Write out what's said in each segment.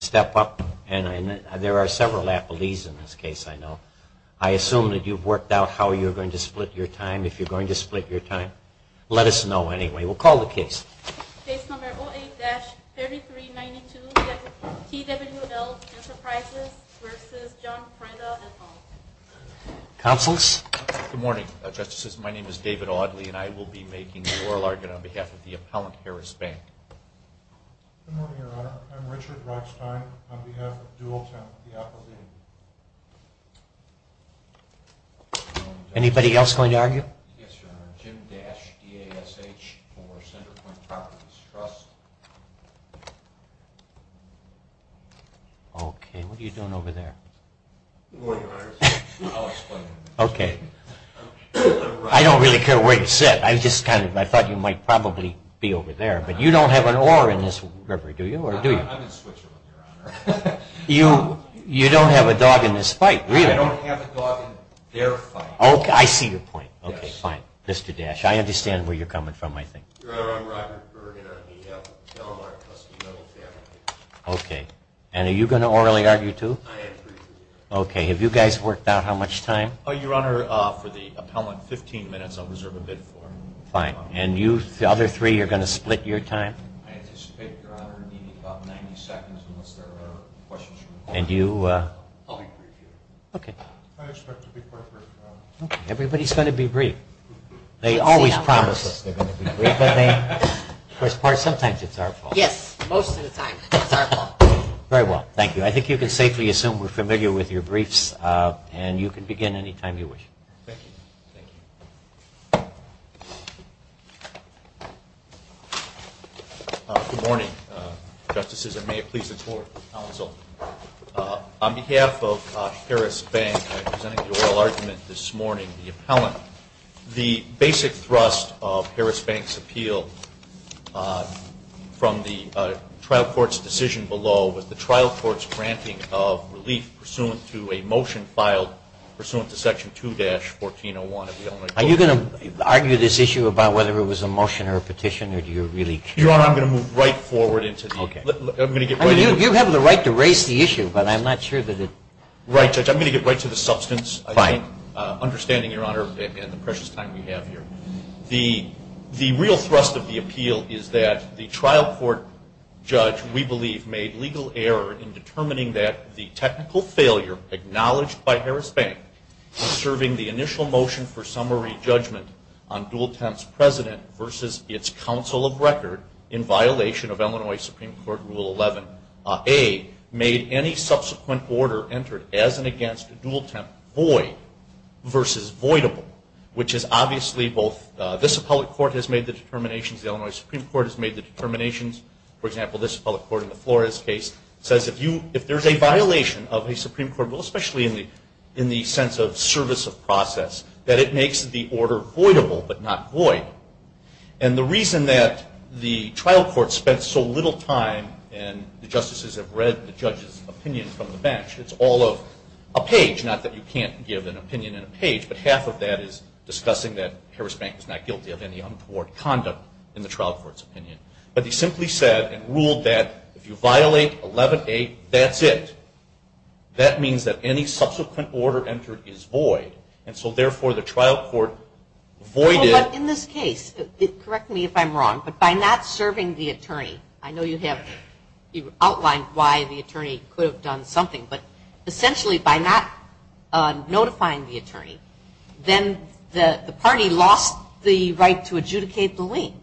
Step up and there are several appellees in this case I know. I assume that you've worked out how you're going to split your time. If you're going to split your time, let us know anyway. We'll call the case. Case number 08-3392 TWL Enterprises v. John Freda. Counsel's. Good morning, justices. My name is David Audley and I will be making the oral argument on behalf of the appellant Harris Bank. Good morning, Your Honor. I'm Richard Rockstein on behalf of Dualtown Appellate. Anybody else going to argue? Yes, Your Honor. Jim Dash, DASH for Centerpoint Properties Trust. Okay, what are you doing over there? Good morning, Your Honor. I'll explain. Okay. I don't really care where you sit. I thought you might probably be over there, but you don't have an oar in this river, do you? I'm in Switzerland, Your Honor. You don't have a dog in this fight, really? I don't have a dog in their fight. Okay, I see your point. Okay, fine. Mr. Dash, I understand where you're coming from, I think. Your Honor, I'm Robert Bergen on behalf of the Del Mar Custody Metal Family. Okay, and are you going to orally argue, too? I agree. Okay, have you guys worked out how much time? Oh, Your Honor, for the appellant, 15 minutes. I'll reserve a bit for him. Fine. And you, the other three, you're going to split your time? I anticipate, Your Honor, needing about 90 seconds unless there are questions from the public. And you? I'll be brief, Your Honor. Okay. I expect to be brief, Your Honor. Okay, everybody's going to be brief. They always promise they're going to be brief, don't they? Of course, sometimes it's our fault. Yes, most of the time it's our fault. Very well. Thank you. I think you can safely assume we're familiar with your briefs, and you can begin any time you wish. Thank you. Good morning, Justices, and may it please the Court, counsel. On behalf of Harris Bank, I'm presenting the oral argument this morning, the appellant. The basic thrust of Harris Bank's appeal from the trial court's decision below was the trial court's granting of relief pursuant to a motion filed pursuant to Section 2-1401. Are you going to argue this issue about whether it was a motion or a petition, or do you really care? Your Honor, I'm going to move right forward into the issue. Okay. You have the right to raise the issue, but I'm not sure that it – Right, Judge. I'm going to get right to the substance. Fine. Understanding, Your Honor, and the precious time we have here, the real thrust of the appeal is that the trial court judge, we believe, made legal error in determining that the technical failure acknowledged by Harris Bank in serving the initial motion for summary judgment on Dual Temp's president versus its counsel of record in violation of Illinois Supreme Court Rule 11a made any subsequent order entered as and against Dual Temp void versus voidable, which is obviously both – this appellate court has made the determinations, the Illinois Supreme Court has made the determinations. For example, this appellate court in the Flores case says if there's a violation of a Supreme Court rule, especially in the sense of service of process, that it makes the order voidable but not void. And the reason that the trial court spent so little time and the justices have read the judge's opinion from the bench, it's all of a page, not that you can't give an opinion in a page, but half of that is discussing that Harris Bank is not guilty of any untoward conduct in the trial court's opinion. But he simply said and ruled that if you violate 11a, that's it. That means that any subsequent order entered is void, and so therefore the trial court voided – But in this case, correct me if I'm wrong, but by not serving the attorney, I know you have outlined why the attorney could have done something, but essentially by not notifying the attorney, then the party lost the right to adjudicate the lien.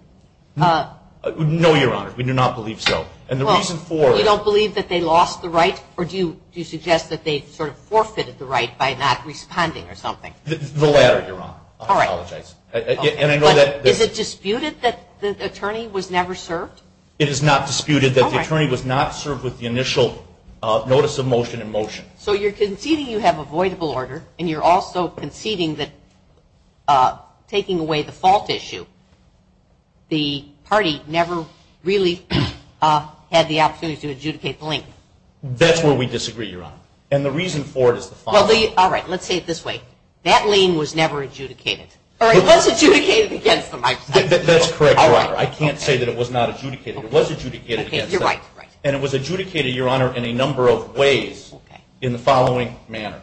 No, Your Honor. We do not believe so. And the reason for it – You don't believe that they lost the right, or do you suggest that they sort of forfeited the right by not responding or something? The latter, Your Honor. I apologize. Is it disputed that the attorney was never served? It is not disputed that the attorney was not served with the initial notice of motion in motion. So you're conceding you have avoidable order, and you're also conceding that taking away the fault issue, the party never really had the opportunity to adjudicate the lien. That's where we disagree, Your Honor. And the reason for it is the following. All right. Let's say it this way. That lien was never adjudicated. Or it was adjudicated against them. That's correct, Your Honor. I can't say that it was not adjudicated. It was adjudicated against them. You're right. And it was adjudicated, Your Honor, in a number of ways in the following manner.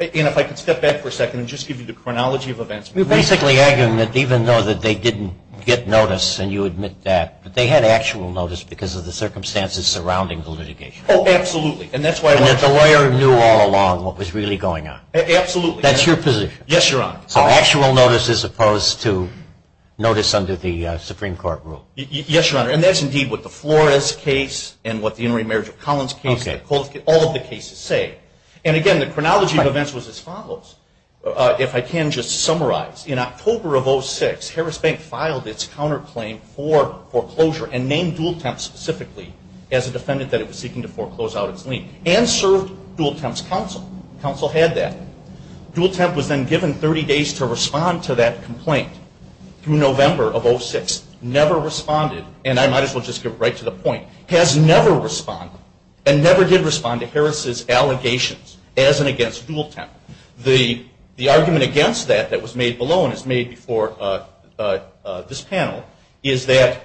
And if I could step back for a second and just give you the chronology of events. We're basically arguing that even though they didn't get notice, and you admit that, they had actual notice because of the circumstances surrounding the litigation. Oh, absolutely. And that the lawyer knew all along what was really going on. Absolutely. That's your position. Yes, Your Honor. So actual notice as opposed to notice under the Supreme Court rule. Yes, Your Honor. And that's indeed what the Flores case and what the intermarriage of Collins case, all of the cases say. And, again, the chronology of events was as follows. If I can just summarize. In October of 2006, Harris Bank filed its counterclaim for foreclosure and named Dooltemp specifically as a defendant that it was seeking to foreclose out its lien and served Dooltemp's counsel. Counsel had that. Dooltemp was then given 30 days to respond to that complaint through November of 06. Never responded, and I might as well just get right to the point, has never responded and never did respond to Harris's allegations as and against Dooltemp. The argument against that, that was made below and was made before this panel, is that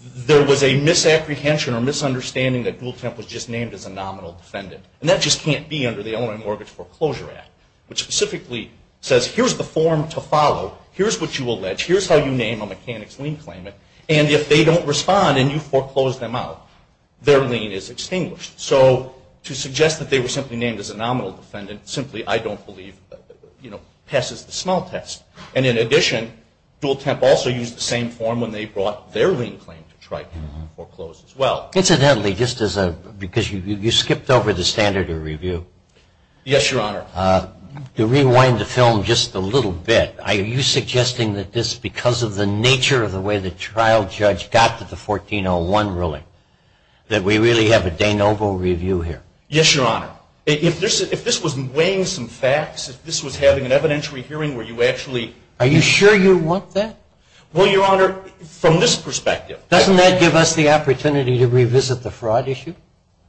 there was a misapprehension or misunderstanding that Dooltemp was just named as a nominal defendant. And that just can't be under the Illinois Mortgage Foreclosure Act, which specifically says here's the form to follow, here's what you allege, here's how you name a mechanic's lien claimant, and if they don't respond and you foreclose them out, their lien is extinguished. So to suggest that they were simply named as a nominal defendant simply, I don't believe, you know, passes the small test. And in addition, Dooltemp also used the same form when they brought their lien claim to try to foreclose as well. Incidentally, just as a, because you skipped over the standard of review. Yes, Your Honor. To rewind the film just a little bit, are you suggesting that this, because of the nature of the way the trial judge got to the 1401 ruling, that we really have a de novo review here? Yes, Your Honor. If this was weighing some facts, if this was having an evidentiary hearing where you actually... Are you sure you want that? Well, Your Honor, from this perspective... Doesn't that give us the opportunity to revisit the fraud issue?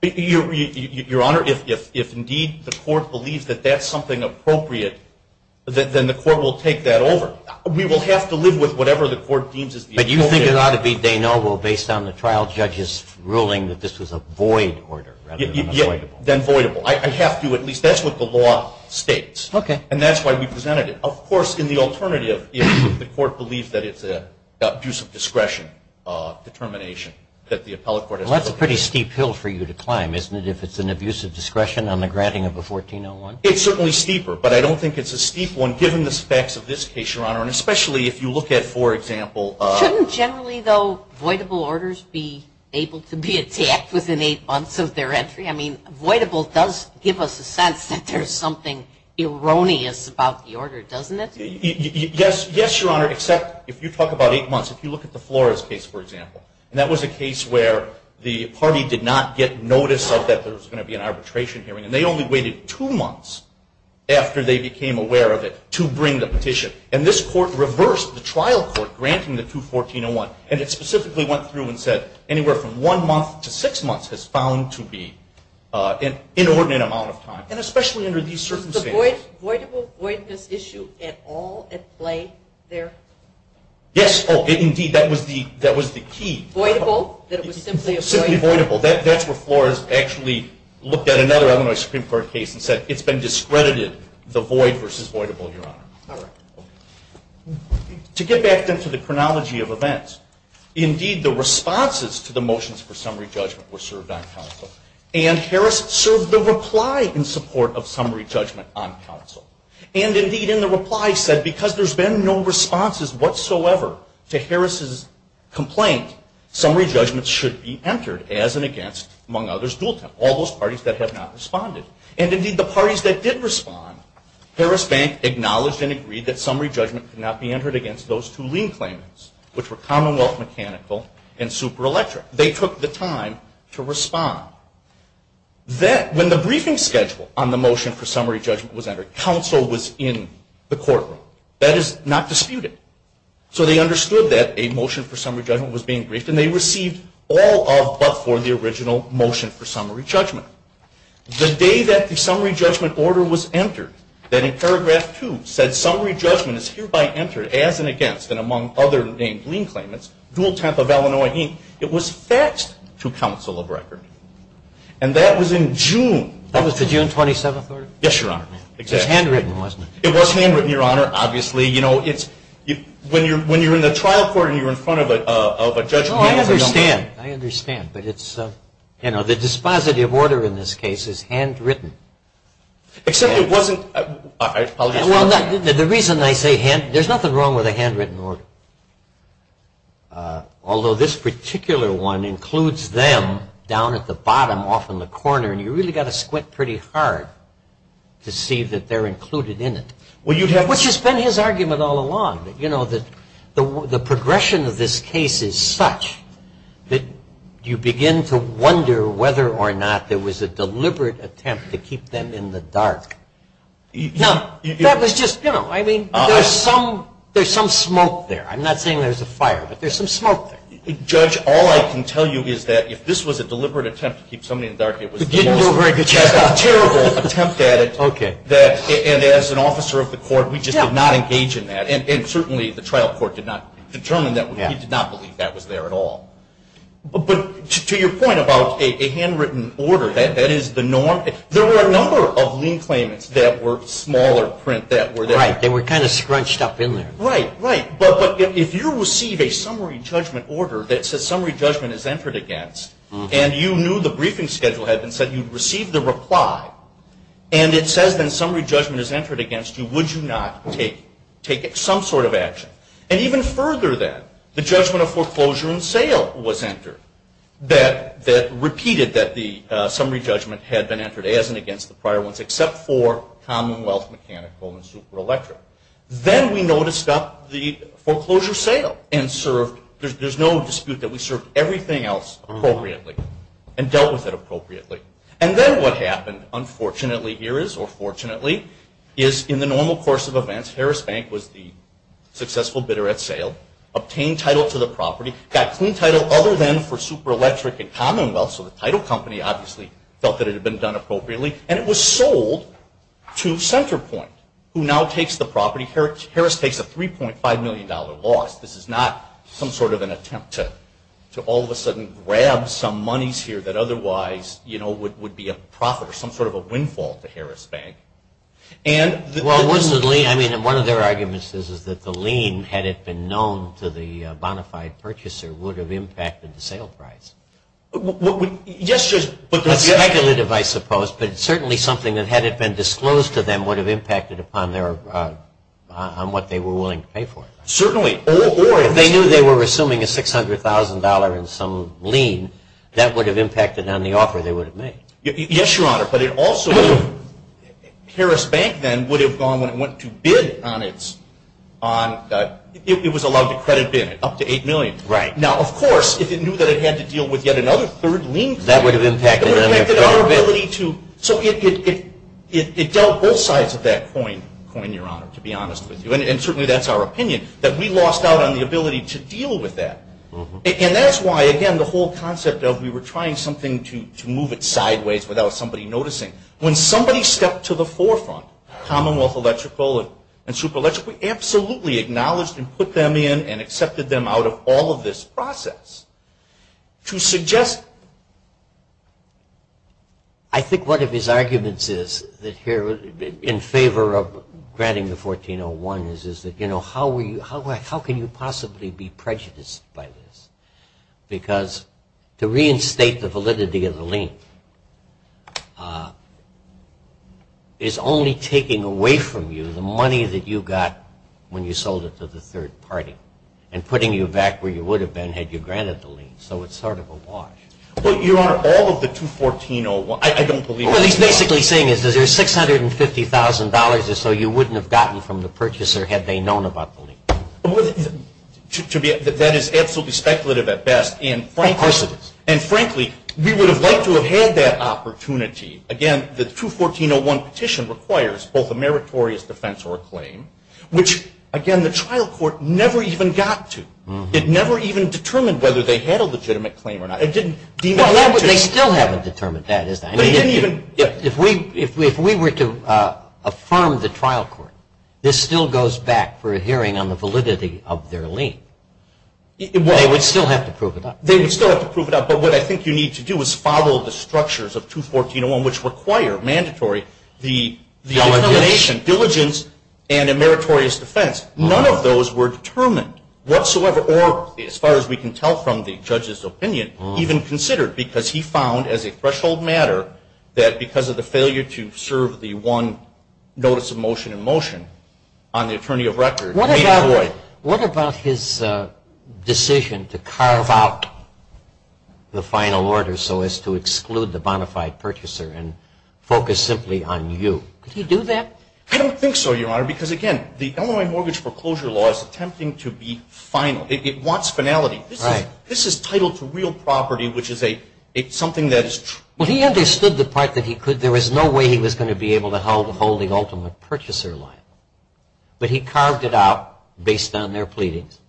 Your Honor, if indeed the court believes that that's something appropriate, then the court will take that over. But you think it ought to be de novo based on the trial judge's ruling that this was a void order, rather than a voidable? Than voidable. I have to at least... That's what the law states. Okay. And that's why we presented it. Of course, in the alternative, if the court believes that it's an abuse of discretion determination that the appellate court has... Well, that's a pretty steep hill for you to climb, isn't it, if it's an abuse of discretion on the granting of a 1401? It's certainly steeper, but I don't think it's a steep one, given the specs of this case, Your Honor. And especially if you look at, for example... Shouldn't generally, though, voidable orders be able to be attacked within eight months of their entry? I mean, voidable does give us a sense that there's something erroneous about the order, doesn't it? Yes, Your Honor, except if you talk about eight months. If you look at the Flores case, for example, and that was a case where the party did not get notice of that there was going to be an arbitration hearing, and they only waited two months after they became aware of it to bring the petition. And this court reversed the trial court granting the 21401, and it specifically went through and said anywhere from one month to six months is found to be an inordinate amount of time. And especially under these circumstances... Was the voidable-voidness issue at all at play there? Yes. Oh, indeed, that was the key. Voidable? That it was simply a voidable? Simply voidable. That's where Flores actually looked at another Illinois Supreme Court case and said it's been discredited, the void versus voidable, Your Honor. All right. To get back then to the chronology of events, indeed the responses to the motions for summary judgment were served on counsel, and Harris served the reply in support of summary judgment on counsel. And indeed in the reply said because there's been no responses whatsoever to Harris's complaint, summary judgment should be entered as and against, among others, Doolton, all those parties that have not responded. And indeed the parties that did respond, Harris Bank acknowledged and agreed that summary judgment could not be entered against those two lien claimants, which were Commonwealth Mechanical and Super Electric. They took the time to respond. When the briefing schedule on the motion for summary judgment was entered, counsel was in the courtroom. That is not disputed. So they understood that a motion for summary judgment was being briefed, and they received all of but for the original motion for summary judgment. The day that the summary judgment order was entered, that in paragraph two said summary judgment is hereby entered as and against, and among other named lien claimants, Doolton of Illinois, it was faxed to counsel of record. And that was in June. That was the June 27th order? Yes, Your Honor. It was handwritten, wasn't it? It was handwritten, Your Honor. Obviously, you know, when you're in the trial court and you're in front of a judge. Oh, I understand. I understand. But it's, you know, the dispositive order in this case is handwritten. Except it wasn't. Well, the reason I say handwritten, there's nothing wrong with a handwritten order. Although this particular one includes them down at the bottom off in the corner, and you really got to squint pretty hard to see that they're included in it. Which has been his argument all along. You know, the progression of this case is such that you begin to wonder whether or not there was a deliberate attempt to keep them in the dark. Now, that was just, you know, I mean, there's some smoke there. I'm not saying there's a fire, but there's some smoke there. Judge, all I can tell you is that if this was a deliberate attempt to keep somebody in the dark, it was the most terrible attempt at it. Okay. And as an officer of the court, we just did not engage in that. And certainly the trial court did not determine that. We did not believe that was there at all. But to your point about a handwritten order, that is the norm. There were a number of lien claimants that were smaller print that were there. Right. They were kind of scrunched up in there. Right. Right. But if you receive a summary judgment order that says summary judgment is entered against, and you knew the briefing schedule had been set, you'd receive the reply, and it says then summary judgment is entered against you, would you not take some sort of action? And even further then, the judgment of foreclosure and sale was entered that repeated that the summary judgment had been entered as and against the prior ones, except for commonwealth, mechanical, and super electric. Then we noticed up the foreclosure sale and served. There's no dispute that we served everything else appropriately and dealt with it appropriately. And then what happened, unfortunately here is, or fortunately, is in the normal course of events, Harris Bank was the successful bidder at sale, obtained title to the property, got clean title other than for super electric and commonwealth, so the title company obviously felt that it had been done appropriately, and it was sold to Centerpoint, who now takes the property. Harris takes a $3.5 million loss. This is not some sort of an attempt to all of a sudden grab some monies here that otherwise would be a profit or some sort of a windfall to Harris Bank. One of their arguments is that the lien, had it been known to the bona fide purchaser, would have impacted the sale price. Yes, just speculative, I suppose, but certainly something that had it been disclosed to them would have impacted upon what they were willing to pay for it. Certainly. Or if they knew they were assuming a $600,000 in some lien, that would have impacted on the offer they would have made. Yes, Your Honor, but it also would have, Harris Bank then would have gone when it went to bid on its, it was allowed to credit bid up to $8 million. Right. Now, of course, if it knew that it had to deal with yet another third lien claim, that would have impacted on their probability to, so it dealt both sides of that coin, Your Honor, to be honest with you, and certainly that's our opinion, that we lost out on the ability to deal with that. And that's why, again, the whole concept of we were trying something to move it sideways without somebody noticing. When somebody stepped to the forefront, Commonwealth Electrical and Super Electric, we absolutely acknowledged and put them in and accepted them out of all of this process. To suggest... I think one of his arguments is that here, in favor of granting the 1401, is that, you know, how can you possibly be prejudiced by this? Because to reinstate the validity of the lien is only taking away from you the money that you got when you sold it to the third party and putting you back where you would have been had you granted the lien. So it's sort of a wash. Well, Your Honor, all of the 21401, I don't believe... What he's basically saying is there's $650,000 or so you wouldn't have gotten from the purchaser had they known about the lien. That is absolutely speculative at best and frankly... Of course it is. And frankly, we would have liked to have had that opportunity. Again, the 21401 petition requires both a meritorious defense or a claim, which, again, the trial court never even got to. It never even determined whether they had a legitimate claim or not. Well, they still haven't determined that, is that? But he didn't even... If we were to affirm the trial court, this still goes back for a hearing on the validity of their lien. They would still have to prove it up. They would still have to prove it up. But what I think you need to do is follow the structures of 21401, which require mandatory the elimination, diligence, and a meritorious defense. None of those were determined whatsoever, or as far as we can tell from the judge's opinion, even considered because he found as a threshold matter that because of the failure to serve the one notice of motion in motion on the attorney of record... What about his decision to carve out the final order so as to exclude the bona fide purchaser and focus simply on you? Did he do that? I don't think so, Your Honor, because, again, the Illinois mortgage foreclosure law is attempting to be final. It wants finality. Right. This is title to real property, which is something that is true. Well, he understood the part that he could. There was no way he was going to be able to hold the ultimate purchaser line. But he carved it out based on their pleadings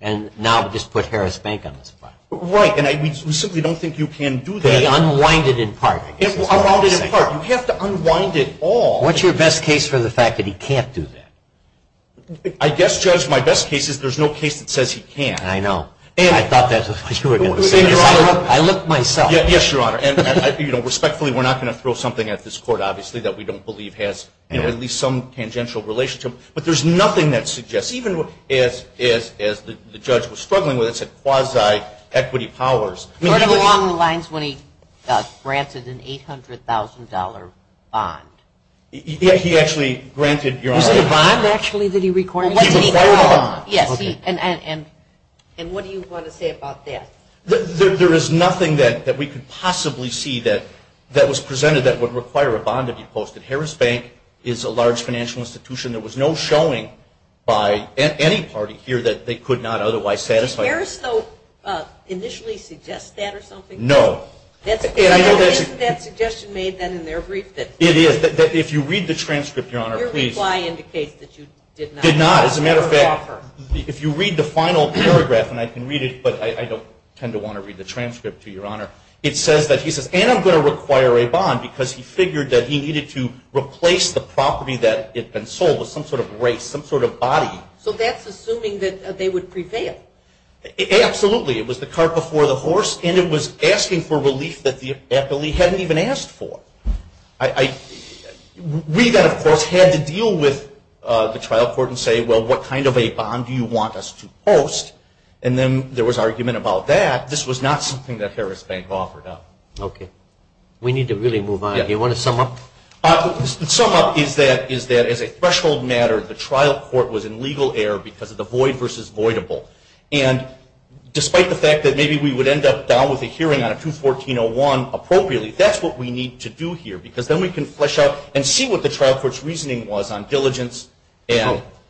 and now just put Harris Bank on the spot. Right, and I simply don't think you can do that. Unwind it in part, I guess is what I'm saying. Unwind it in part. You have to unwind it all. What's your best case for the fact that he can't do that? I guess, Judge, my best case is there's no case that says he can't. I know. I thought that's what you were going to say. I looked myself. Yes, Your Honor, and respectfully, we're not going to throw something at this court, obviously, that we don't believe has at least some tangential relationship. But there's nothing that suggests, even as the judge was struggling with it, said quasi-equity powers. Sort of along the lines when he granted an $800,000 bond. He actually granted, Your Honor. Was it a bond, actually, that he required? He required a bond. Yes, and what do you want to say about that? There is nothing that we could possibly see that was presented that would require a bond to be posted. Harris Bank is a large financial institution. There was no showing by any party here that they could not otherwise satisfy. Did Harris, though, initially suggest that or something? No. Isn't that suggestion made then in their brief? It is. If you read the transcript, Your Honor, please. Your reply indicates that you did not. Did not. As a matter of fact, if you read the final paragraph, and I can read it but I don't tend to want to read the transcript to you, Your Honor, it says that he says, and I'm going to require a bond because he figured that he needed to replace the property that had been sold with some sort of race, some sort of body. So that's assuming that they would prevail. Absolutely. It was the cart before the horse, and it was asking for relief that the appellee hadn't even asked for. We then, of course, had to deal with the trial court and say, well, what kind of a bond do you want us to post? And then there was argument about that. This was not something that Harris Bank offered up. Okay. We need to really move on. Do you want to sum up? Sum up is that as a threshold matter, the trial court was in legal error because of the void versus voidable. And despite the fact that maybe we would end up down with a hearing on a 214-01 appropriately, that's what we need to do here because then we can flesh out and see what the trial court's reasoning was on diligence.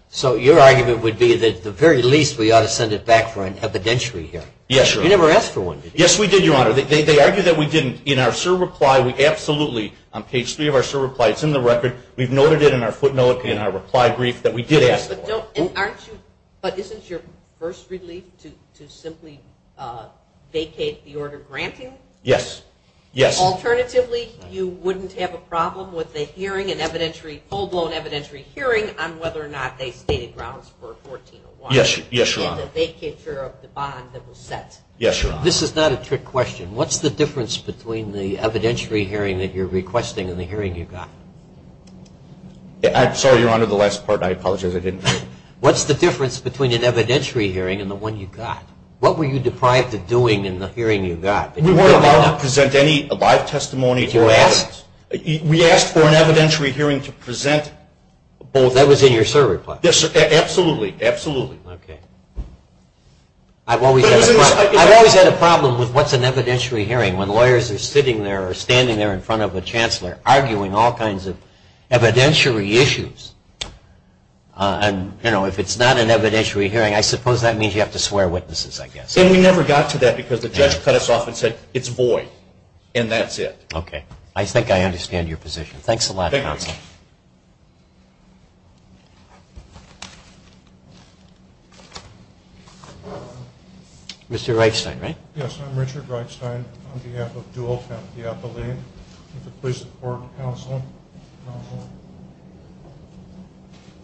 So your argument would be that at the very least we ought to send it back for an evidentiary hearing? Yes, Your Honor. You never asked for one, did you? Yes, we did, Your Honor. They argued that we didn't. In our SIR reply, we absolutely, on page three of our SIR reply, it's in the record. We've noted it in our footnote in our reply brief that we did ask for one. But isn't your first relief to simply vacate the order granting? Yes, yes. Alternatively, you wouldn't have a problem with a hearing, an evidentiary full-blown evidentiary hearing on whether or not they stated grounds for a 14-01. Yes, Your Honor. And the vacature of the bond that was set. Yes, Your Honor. This is not a trick question. What's the difference between the evidentiary hearing that you're requesting and the hearing you got? Sorry, Your Honor, the last part. I apologize. I didn't. What's the difference between an evidentiary hearing and the one you got? What were you deprived of doing in the hearing you got? We weren't allowed to present any live testimony. Did you ask? We asked for an evidentiary hearing to present both. That was in your SIR reply? Yes, absolutely, absolutely. Okay. I've always had a problem with what's an evidentiary hearing when lawyers are sitting there or standing there in front of a chancellor arguing all kinds of evidentiary issues. And, you know, if it's not an evidentiary hearing, I suppose that means you have to swear witnesses, I guess. And we never got to that because the judge cut us off and said, it's void, and that's it. Okay. I think I understand your position. Thanks a lot, Counsel. Thank you. Mr. Reifstein, right? Yes. I'm Richard Reifstein on behalf of Dual Family Appellate. If it please the Court, Counsel.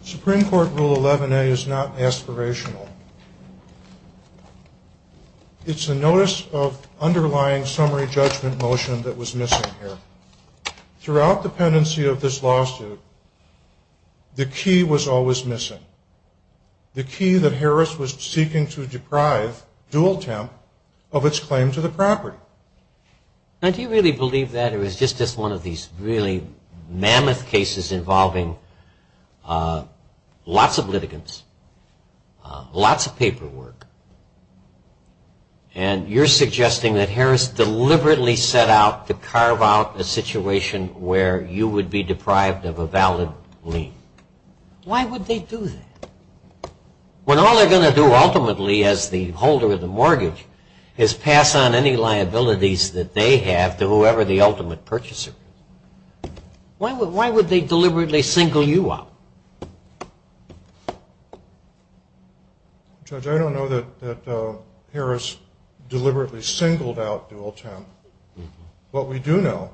Supreme Court Rule 11A is not aspirational. It's a notice of underlying summary judgment motion that was missing here. Throughout the pendency of this lawsuit, the key was always missing. The key that Harris was seeking to deprive Dual Temp of its claim to the property. Now, do you really believe that or is this just one of these really mammoth cases involving lots of litigants, lots of paperwork, and you're suggesting that Harris deliberately set out to carve out a situation where you would be deprived of a valid lien? Why would they do that when all they're going to do ultimately as the holder of the mortgage is pass on any liabilities that they have to whoever the ultimate purchaser is? Why would they deliberately single you out? Judge, I don't know that Harris deliberately singled out Dual Temp. What we do know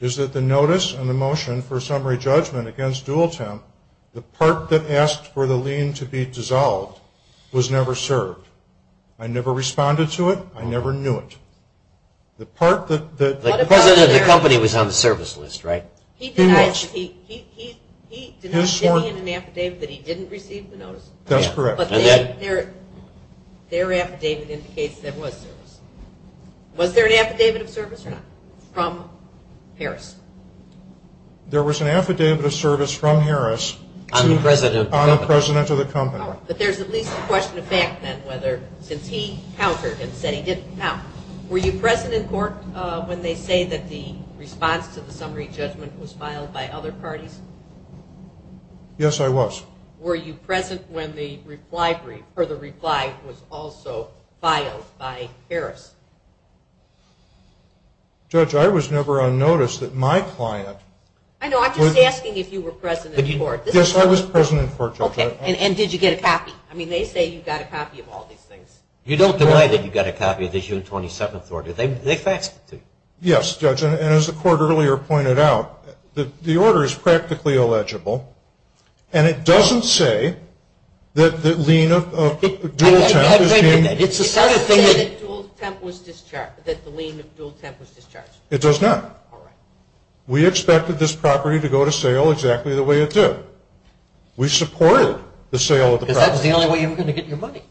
is that the notice and the motion for summary judgment against Dual Temp, the part that asked for the lien to be dissolved, was never served. I never responded to it. I never knew it. The part that... The president of the company was on the service list, right? He did not give me an affidavit that he didn't receive the notice. That's correct. Their affidavit indicates there was service. Was there an affidavit of service or not from Harris? There was an affidavit of service from Harris. On the president of the company. On the president of the company. All right. But there's at least a question of fact then whether since he countered and said he didn't count. Were you present in court when they say that the response to the summary judgment was filed by other parties? Yes, I was. Were you present when the reply was also filed by Harris? Judge, I was never unnoticed that my client... I know. I'm just asking if you were present in court. Yes, I was present in court, Judge. Okay. And did you get a copy? I mean, they say you got a copy of all these things. You don't deny that you got a copy of the June 27th order. They faxed it to you. Yes, Judge. And as the court earlier pointed out, the order is practically illegible and it doesn't say that the lien of dual temp is being... It doesn't say that the lien of dual temp was discharged. It does not. All right. We expected this property to go to sale exactly the way it did. We supported the sale of the property. Because that's the only way you're going to get your money.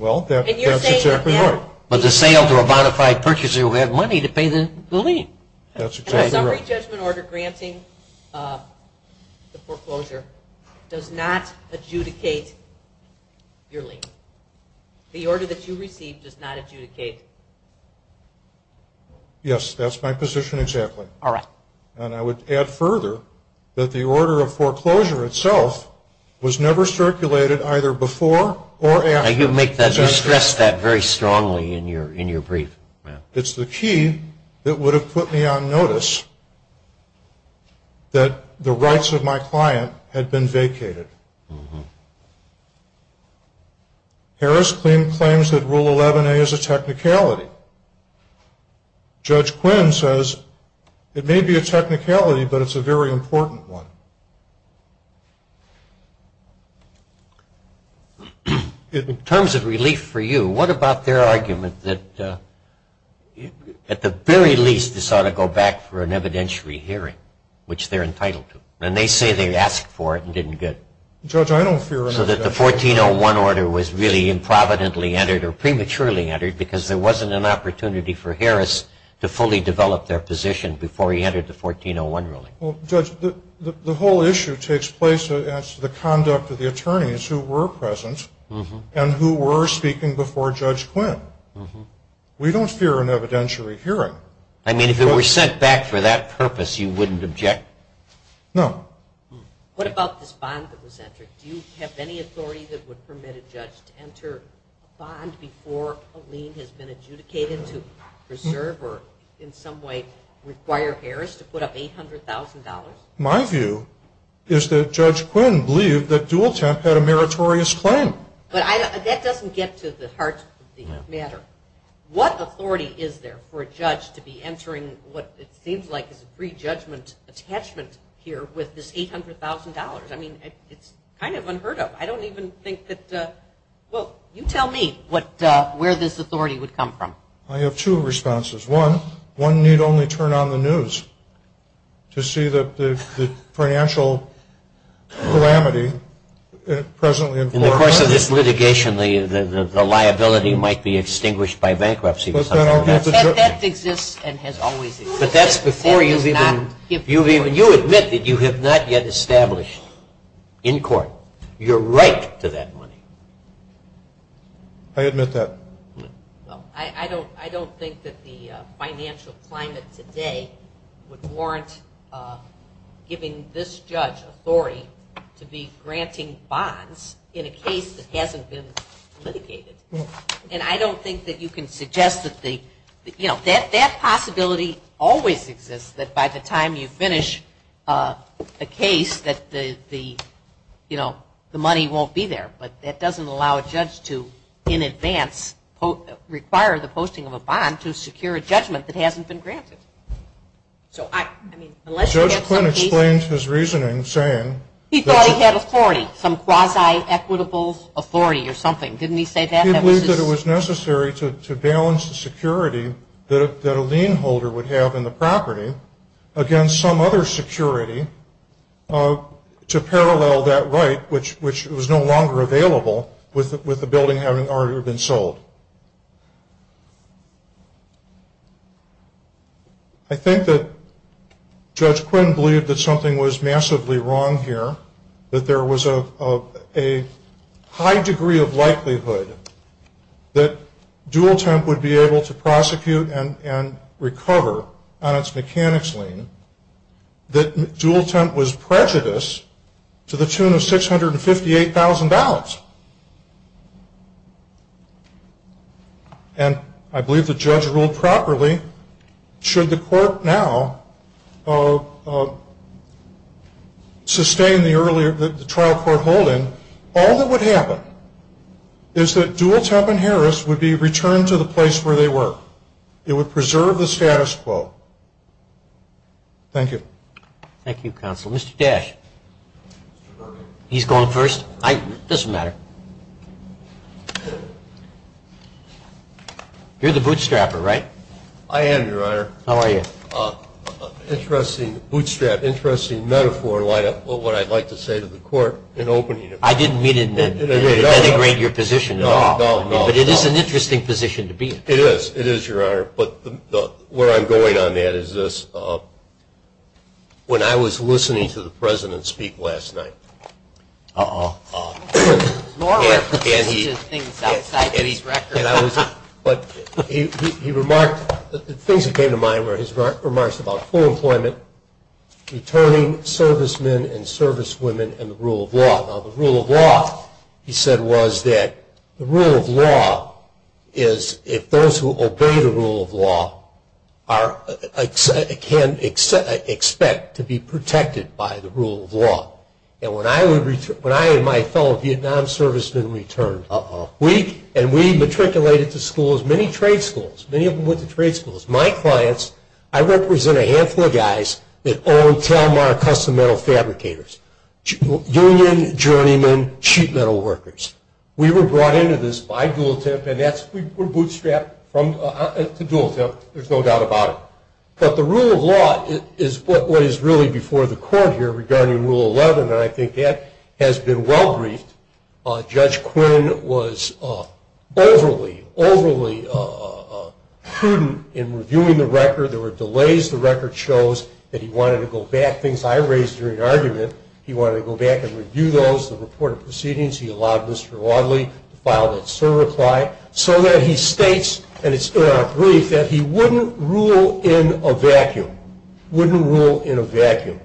Well, that's exactly right. But the sale to a modified purchaser will have money to pay the lien. That's exactly right. The summary judgment order granting the foreclosure does not adjudicate your lien. The order that you received does not adjudicate. Yes, that's my position exactly. All right. And I would add further that the order of foreclosure itself was never circulated either before or after. You stressed that very strongly in your brief. It's the key that would have put me on notice that the rights of my client had been vacated. Harris claims that Rule 11A is a technicality. Judge Quinn says it may be a technicality, but it's a very important one. In terms of relief for you, what about their argument that, at the very least, this ought to go back for an evidentiary hearing, which they're entitled to? And they say they asked for it and didn't get it. Judge, I don't fear another judgment order. So that the 1401 order was really improvidently entered or prematurely entered because there wasn't an opportunity for Harris to fully develop their position before he entered the 1401 ruling. Well, Judge, the whole issue takes place as to the conduct of the attorneys who were present and who were speaking before Judge Quinn. We don't fear an evidentiary hearing. I mean, if it were sent back for that purpose, you wouldn't object? No. What about this bond that was entered? Do you have any authority that would permit a judge to enter a bond before a lien has been adjudicated to preserve or in some way require Harris to put up $800,000? My view is that Judge Quinn believed that Dual Temp had a meritorious claim. But that doesn't get to the heart of the matter. What authority is there for a judge to be entering what it seems like is a pre-judgment attachment here with this $800,000? I mean, it's kind of unheard of. Well, you tell me where this authority would come from. I have two responses. One, one need only turn on the news to see the financial calamity presently in force. In the course of this litigation, the liability might be extinguished by bankruptcy. That exists and has always existed. You admit that you have not yet established in court your right to that money. I admit that. I don't think that the financial climate today would warrant giving this judge authority to be granting bonds in a case that hasn't been litigated. And I don't think that you can suggest that the, you know, that possibility always exists, that by the time you finish a case that the, you know, the money won't be there. But that doesn't allow a judge to in advance require the posting of a bond to secure a judgment that hasn't been granted. So, I mean, unless you have some piece. Judge Quinn explained his reasoning saying. He thought he had authority, some quasi-equitable authority or something. Didn't he say that? He believed that it was necessary to balance the security that a lien holder would have in the property against some other security to parallel that right, which was no longer available, with the building having already been sold. I think that Judge Quinn believed that something was massively wrong here, that there was a high degree of likelihood that Dual Temp would be able to prosecute and recover on its mechanics lien, that Dual Temp was prejudiced to the tune of 658,000 ballots. And I believe the judge ruled properly. Should the court now sustain the trial court hold-in, all that would happen is that Dual Temp and Harris would be returned to the place where they were. It would preserve the status quo. Thank you. Thank you, counsel. Mr. Dash. He's going first? It doesn't matter. You're the bootstrapper, right? I am, Your Honor. How are you? Interesting bootstrap, interesting metaphor, what I'd like to say to the court in opening it. I didn't mean to denigrate your position at all. No, no, no. But it is an interesting position to be in. It is. It is, Your Honor. But where I'm going on that is this. When I was listening to the President speak last night, Uh-oh, uh-oh. And he remarked, things that came to mind were his remarks about full employment, returning servicemen and servicewomen, and the rule of law. Now, the rule of law, he said, was that the rule of law is if those who obey the rule of law can expect to be protected by the rule of law. And when I and my fellow Vietnam servicemen returned, and we matriculated to schools, many trade schools, many of them went to trade schools, my clients, I represent a handful of guys that own Telmar Custom Metal Fabricators, union journeymen, sheet metal workers. We were brought into this by Dualtip, and we were bootstrapped to Dualtip, so there's no doubt about it. But the rule of law is what is really before the court here regarding Rule 11, and I think that has been well briefed. Judge Quinn was overly, overly prudent in reviewing the record. There were delays. The record shows that he wanted to go back. Things I raised during argument, he wanted to go back and review those, the report of proceedings. He allowed Mr. Wadley to file that certify, so that he states, and it's in our brief, that he wouldn't rule in a vacuum. Wouldn't rule in a vacuum.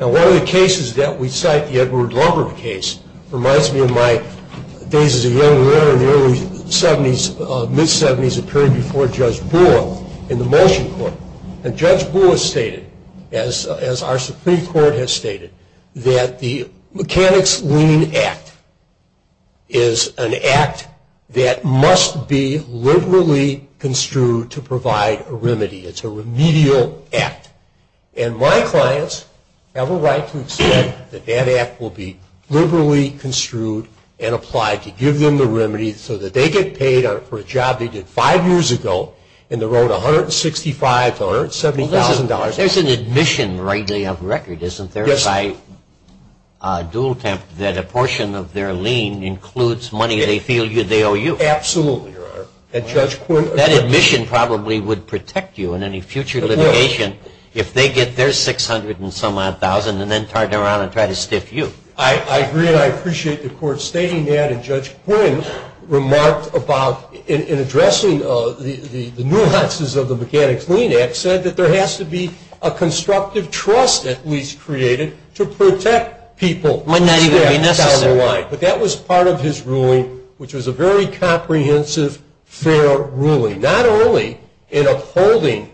Now, one of the cases that we cite, the Edward Lumber case, reminds me of my days as a young lawyer in the early 70s, mid-70s, a period before Judge Bulla in the motion court. And Judge Bulla stated, as our Supreme Court has stated, that the Mechanics Leaning Act is an act that must be liberally construed to provide a remedy. It's a remedial act. And my clients have a right to say that that act will be liberally construed and applied to give them the remedy so that they get paid for a job they did five years ago and they're owed $165,000 to $170,000. There's an admission right there on the record, isn't there, by Dual Temp, that a portion of their lien includes money they feel they owe you? Absolutely, Your Honor. That admission probably would protect you in any future litigation if they get their $600,000 and some odd thousand and then turn around and try to stiff you. I agree, and I appreciate the court stating that. And Judge Quinn remarked about, in addressing the nuances of the Mechanics Leaning Act, said that there has to be a constructive trust, at least created, to protect people. Might not even be necessary. But that was part of his ruling, which was a very comprehensive, fair ruling. Not only in upholding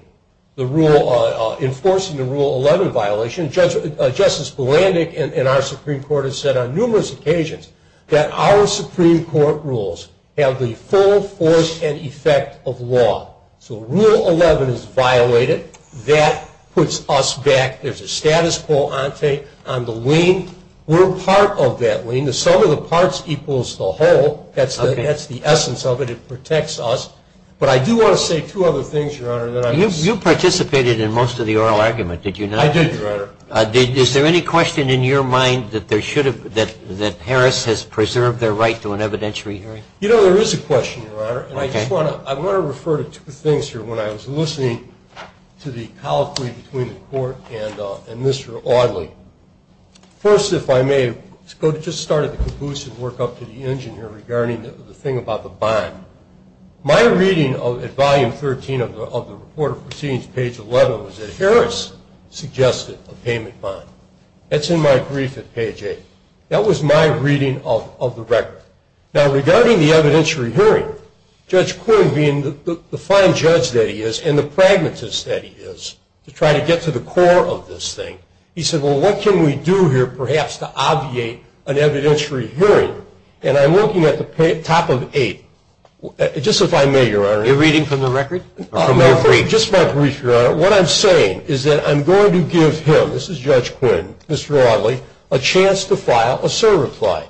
the rule, enforcing the Rule 11 violation, Justice Bulandic and our Supreme Court have said on numerous occasions that our Supreme Court rules have the full force and effect of law. So Rule 11 is violated. That puts us back. There's a status quo on the lien. We're part of that lien. The sum of the parts equals the whole. That's the essence of it. It protects us. But I do want to say two other things, Your Honor. You participated in most of the oral argument, did you not? I did, Your Honor. Is there any question in your mind that Harris has preserved their right to an evidentiary hearing? You know, there is a question, Your Honor. And I just want to refer to two things here when I was listening to the colloquy between the Court and Mr. Audley. First, if I may, let's just start at the caboose and work up to the engineer regarding the thing about the bond. My reading at Volume 13 of the Report of Proceedings, Page 11, was that Harris suggested a payment bond. That's in my brief at Page 8. That was my reading of the record. Now, regarding the evidentiary hearing, Judge Quinn, being the fine judge that he is and the pragmatist that he is, to try to get to the core of this thing, he said, well, what can we do here perhaps to obviate an evidentiary hearing? And I'm looking at the top of eight. Just if I may, Your Honor. Your reading from the record? Just my brief, Your Honor. What I'm saying is that I'm going to give him, this is Judge Quinn, Mr. Audley, a chance to file a surreply.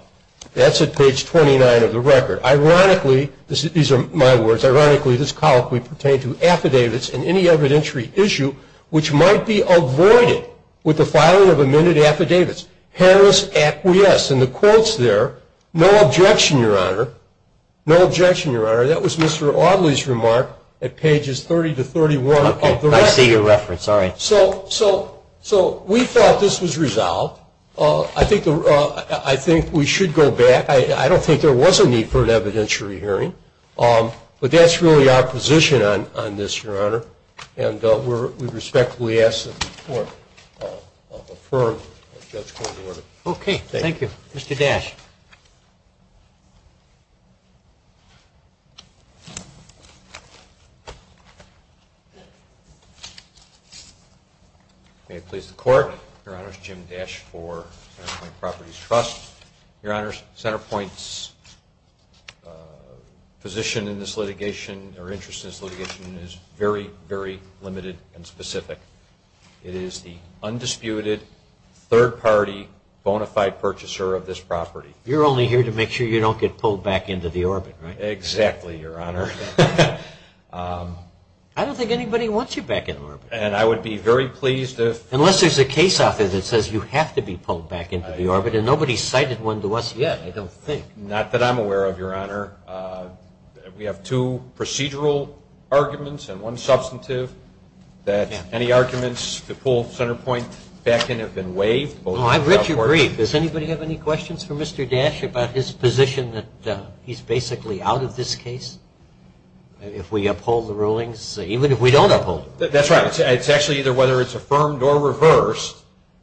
That's at Page 29 of the record. Ironically, these are my words, ironically this colloquy pertained to affidavits in any evidentiary issue which might be avoided with the filing of amended affidavits. Harris acquiesced. In the quotes there, no objection, Your Honor. No objection, Your Honor. That was Mr. Audley's remark at Pages 30 to 31 of the record. Okay. I see your reference. All right. So we thought this was resolved. I think we should go back. I don't think there was a need for an evidentiary hearing, but that's really our position on this, Your Honor, and we respectfully ask that the Court affirm Judge Quinn's order. Okay. Thank you. Mr. Dash. May it please the Court. Your Honor, it's Jim Dash for Centerpoint Properties Trust. Your Honor, Centerpoint's position in this litigation or interest in this litigation is very, very limited and specific. It is the undisputed, third-party, bona fide purchaser of this property. You're only here to make sure you don't get pulled back into the orbit, right? Exactly, Your Honor. I don't think anybody wants you back in orbit. And I would be very pleased if – Unless there's a case offer that says you have to be pulled back into the orbit, and nobody's cited one to us yet, I don't think. Not that I'm aware of, Your Honor. We have two procedural arguments and one substantive that any arguments to pull Centerpoint back in have been waived. Oh, I richly agree. Does anybody have any questions for Mr. Dash about his position that he's basically out of this case if we uphold the rulings, even if we don't uphold them? That's right. It's actually either whether it's affirmed or reversed.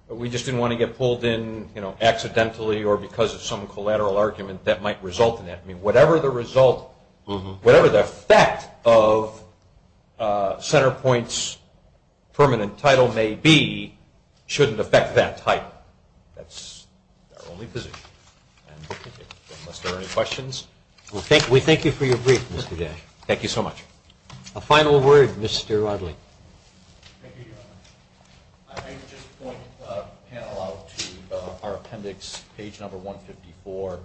We just didn't want to get pulled in accidentally or because of some collateral argument that might result in that. Whatever the result – whatever the effect of Centerpoint's permanent title may be shouldn't affect that title. That's our only position. Unless there are any questions. We thank you for your brief, Mr. Dash. Thank you so much. A final word, Mr. Rodley. Thank you, Your Honor. I'd like to just point the panel out to our appendix, page number 154.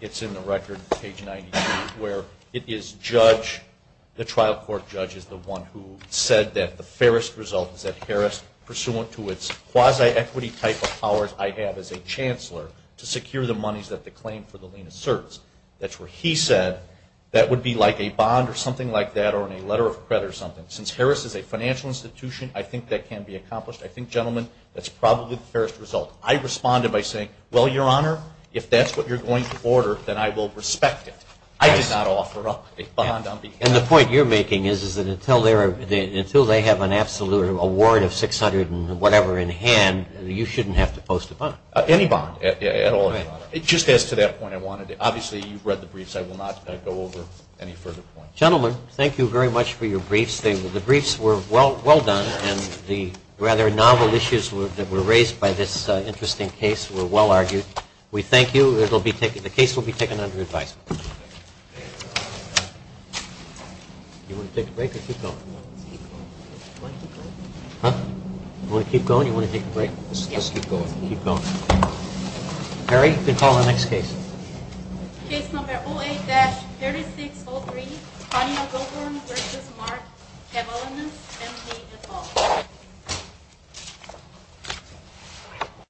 It's in the record, page 92, where it is judge – the trial court judge is the one who said that the fairest result is that Harris, pursuant to its quasi-equity type of powers I have as a chancellor, to secure the monies that the claim for the lien asserts. That's what he said. That would be like a bond or something like that or a letter of credit or something. Since Harris is a financial institution, I think that can be accomplished. I think, gentlemen, that's probably the fairest result. I responded by saying, well, Your Honor, if that's what you're going to order, then I will respect it. I did not offer up a bond on behalf – And the point you're making is that until they have an absolute award of 600 and whatever in hand, you shouldn't have to post a bond. Any bond at all. Just as to that point, obviously you've read the briefs. I will not go over any further points. Gentlemen, thank you very much for your briefs. The briefs were well done, and the rather novel issues that were raised by this interesting case were well argued. We thank you. The case will be taken under advisement. You want to take a break or keep going? You want to keep going? You want to take a break? Let's keep going. Keep going. Mary, you can call the next case. Case number 08-3603, Tanya Goldhorn v. Mark Kevalen and Paige Atul.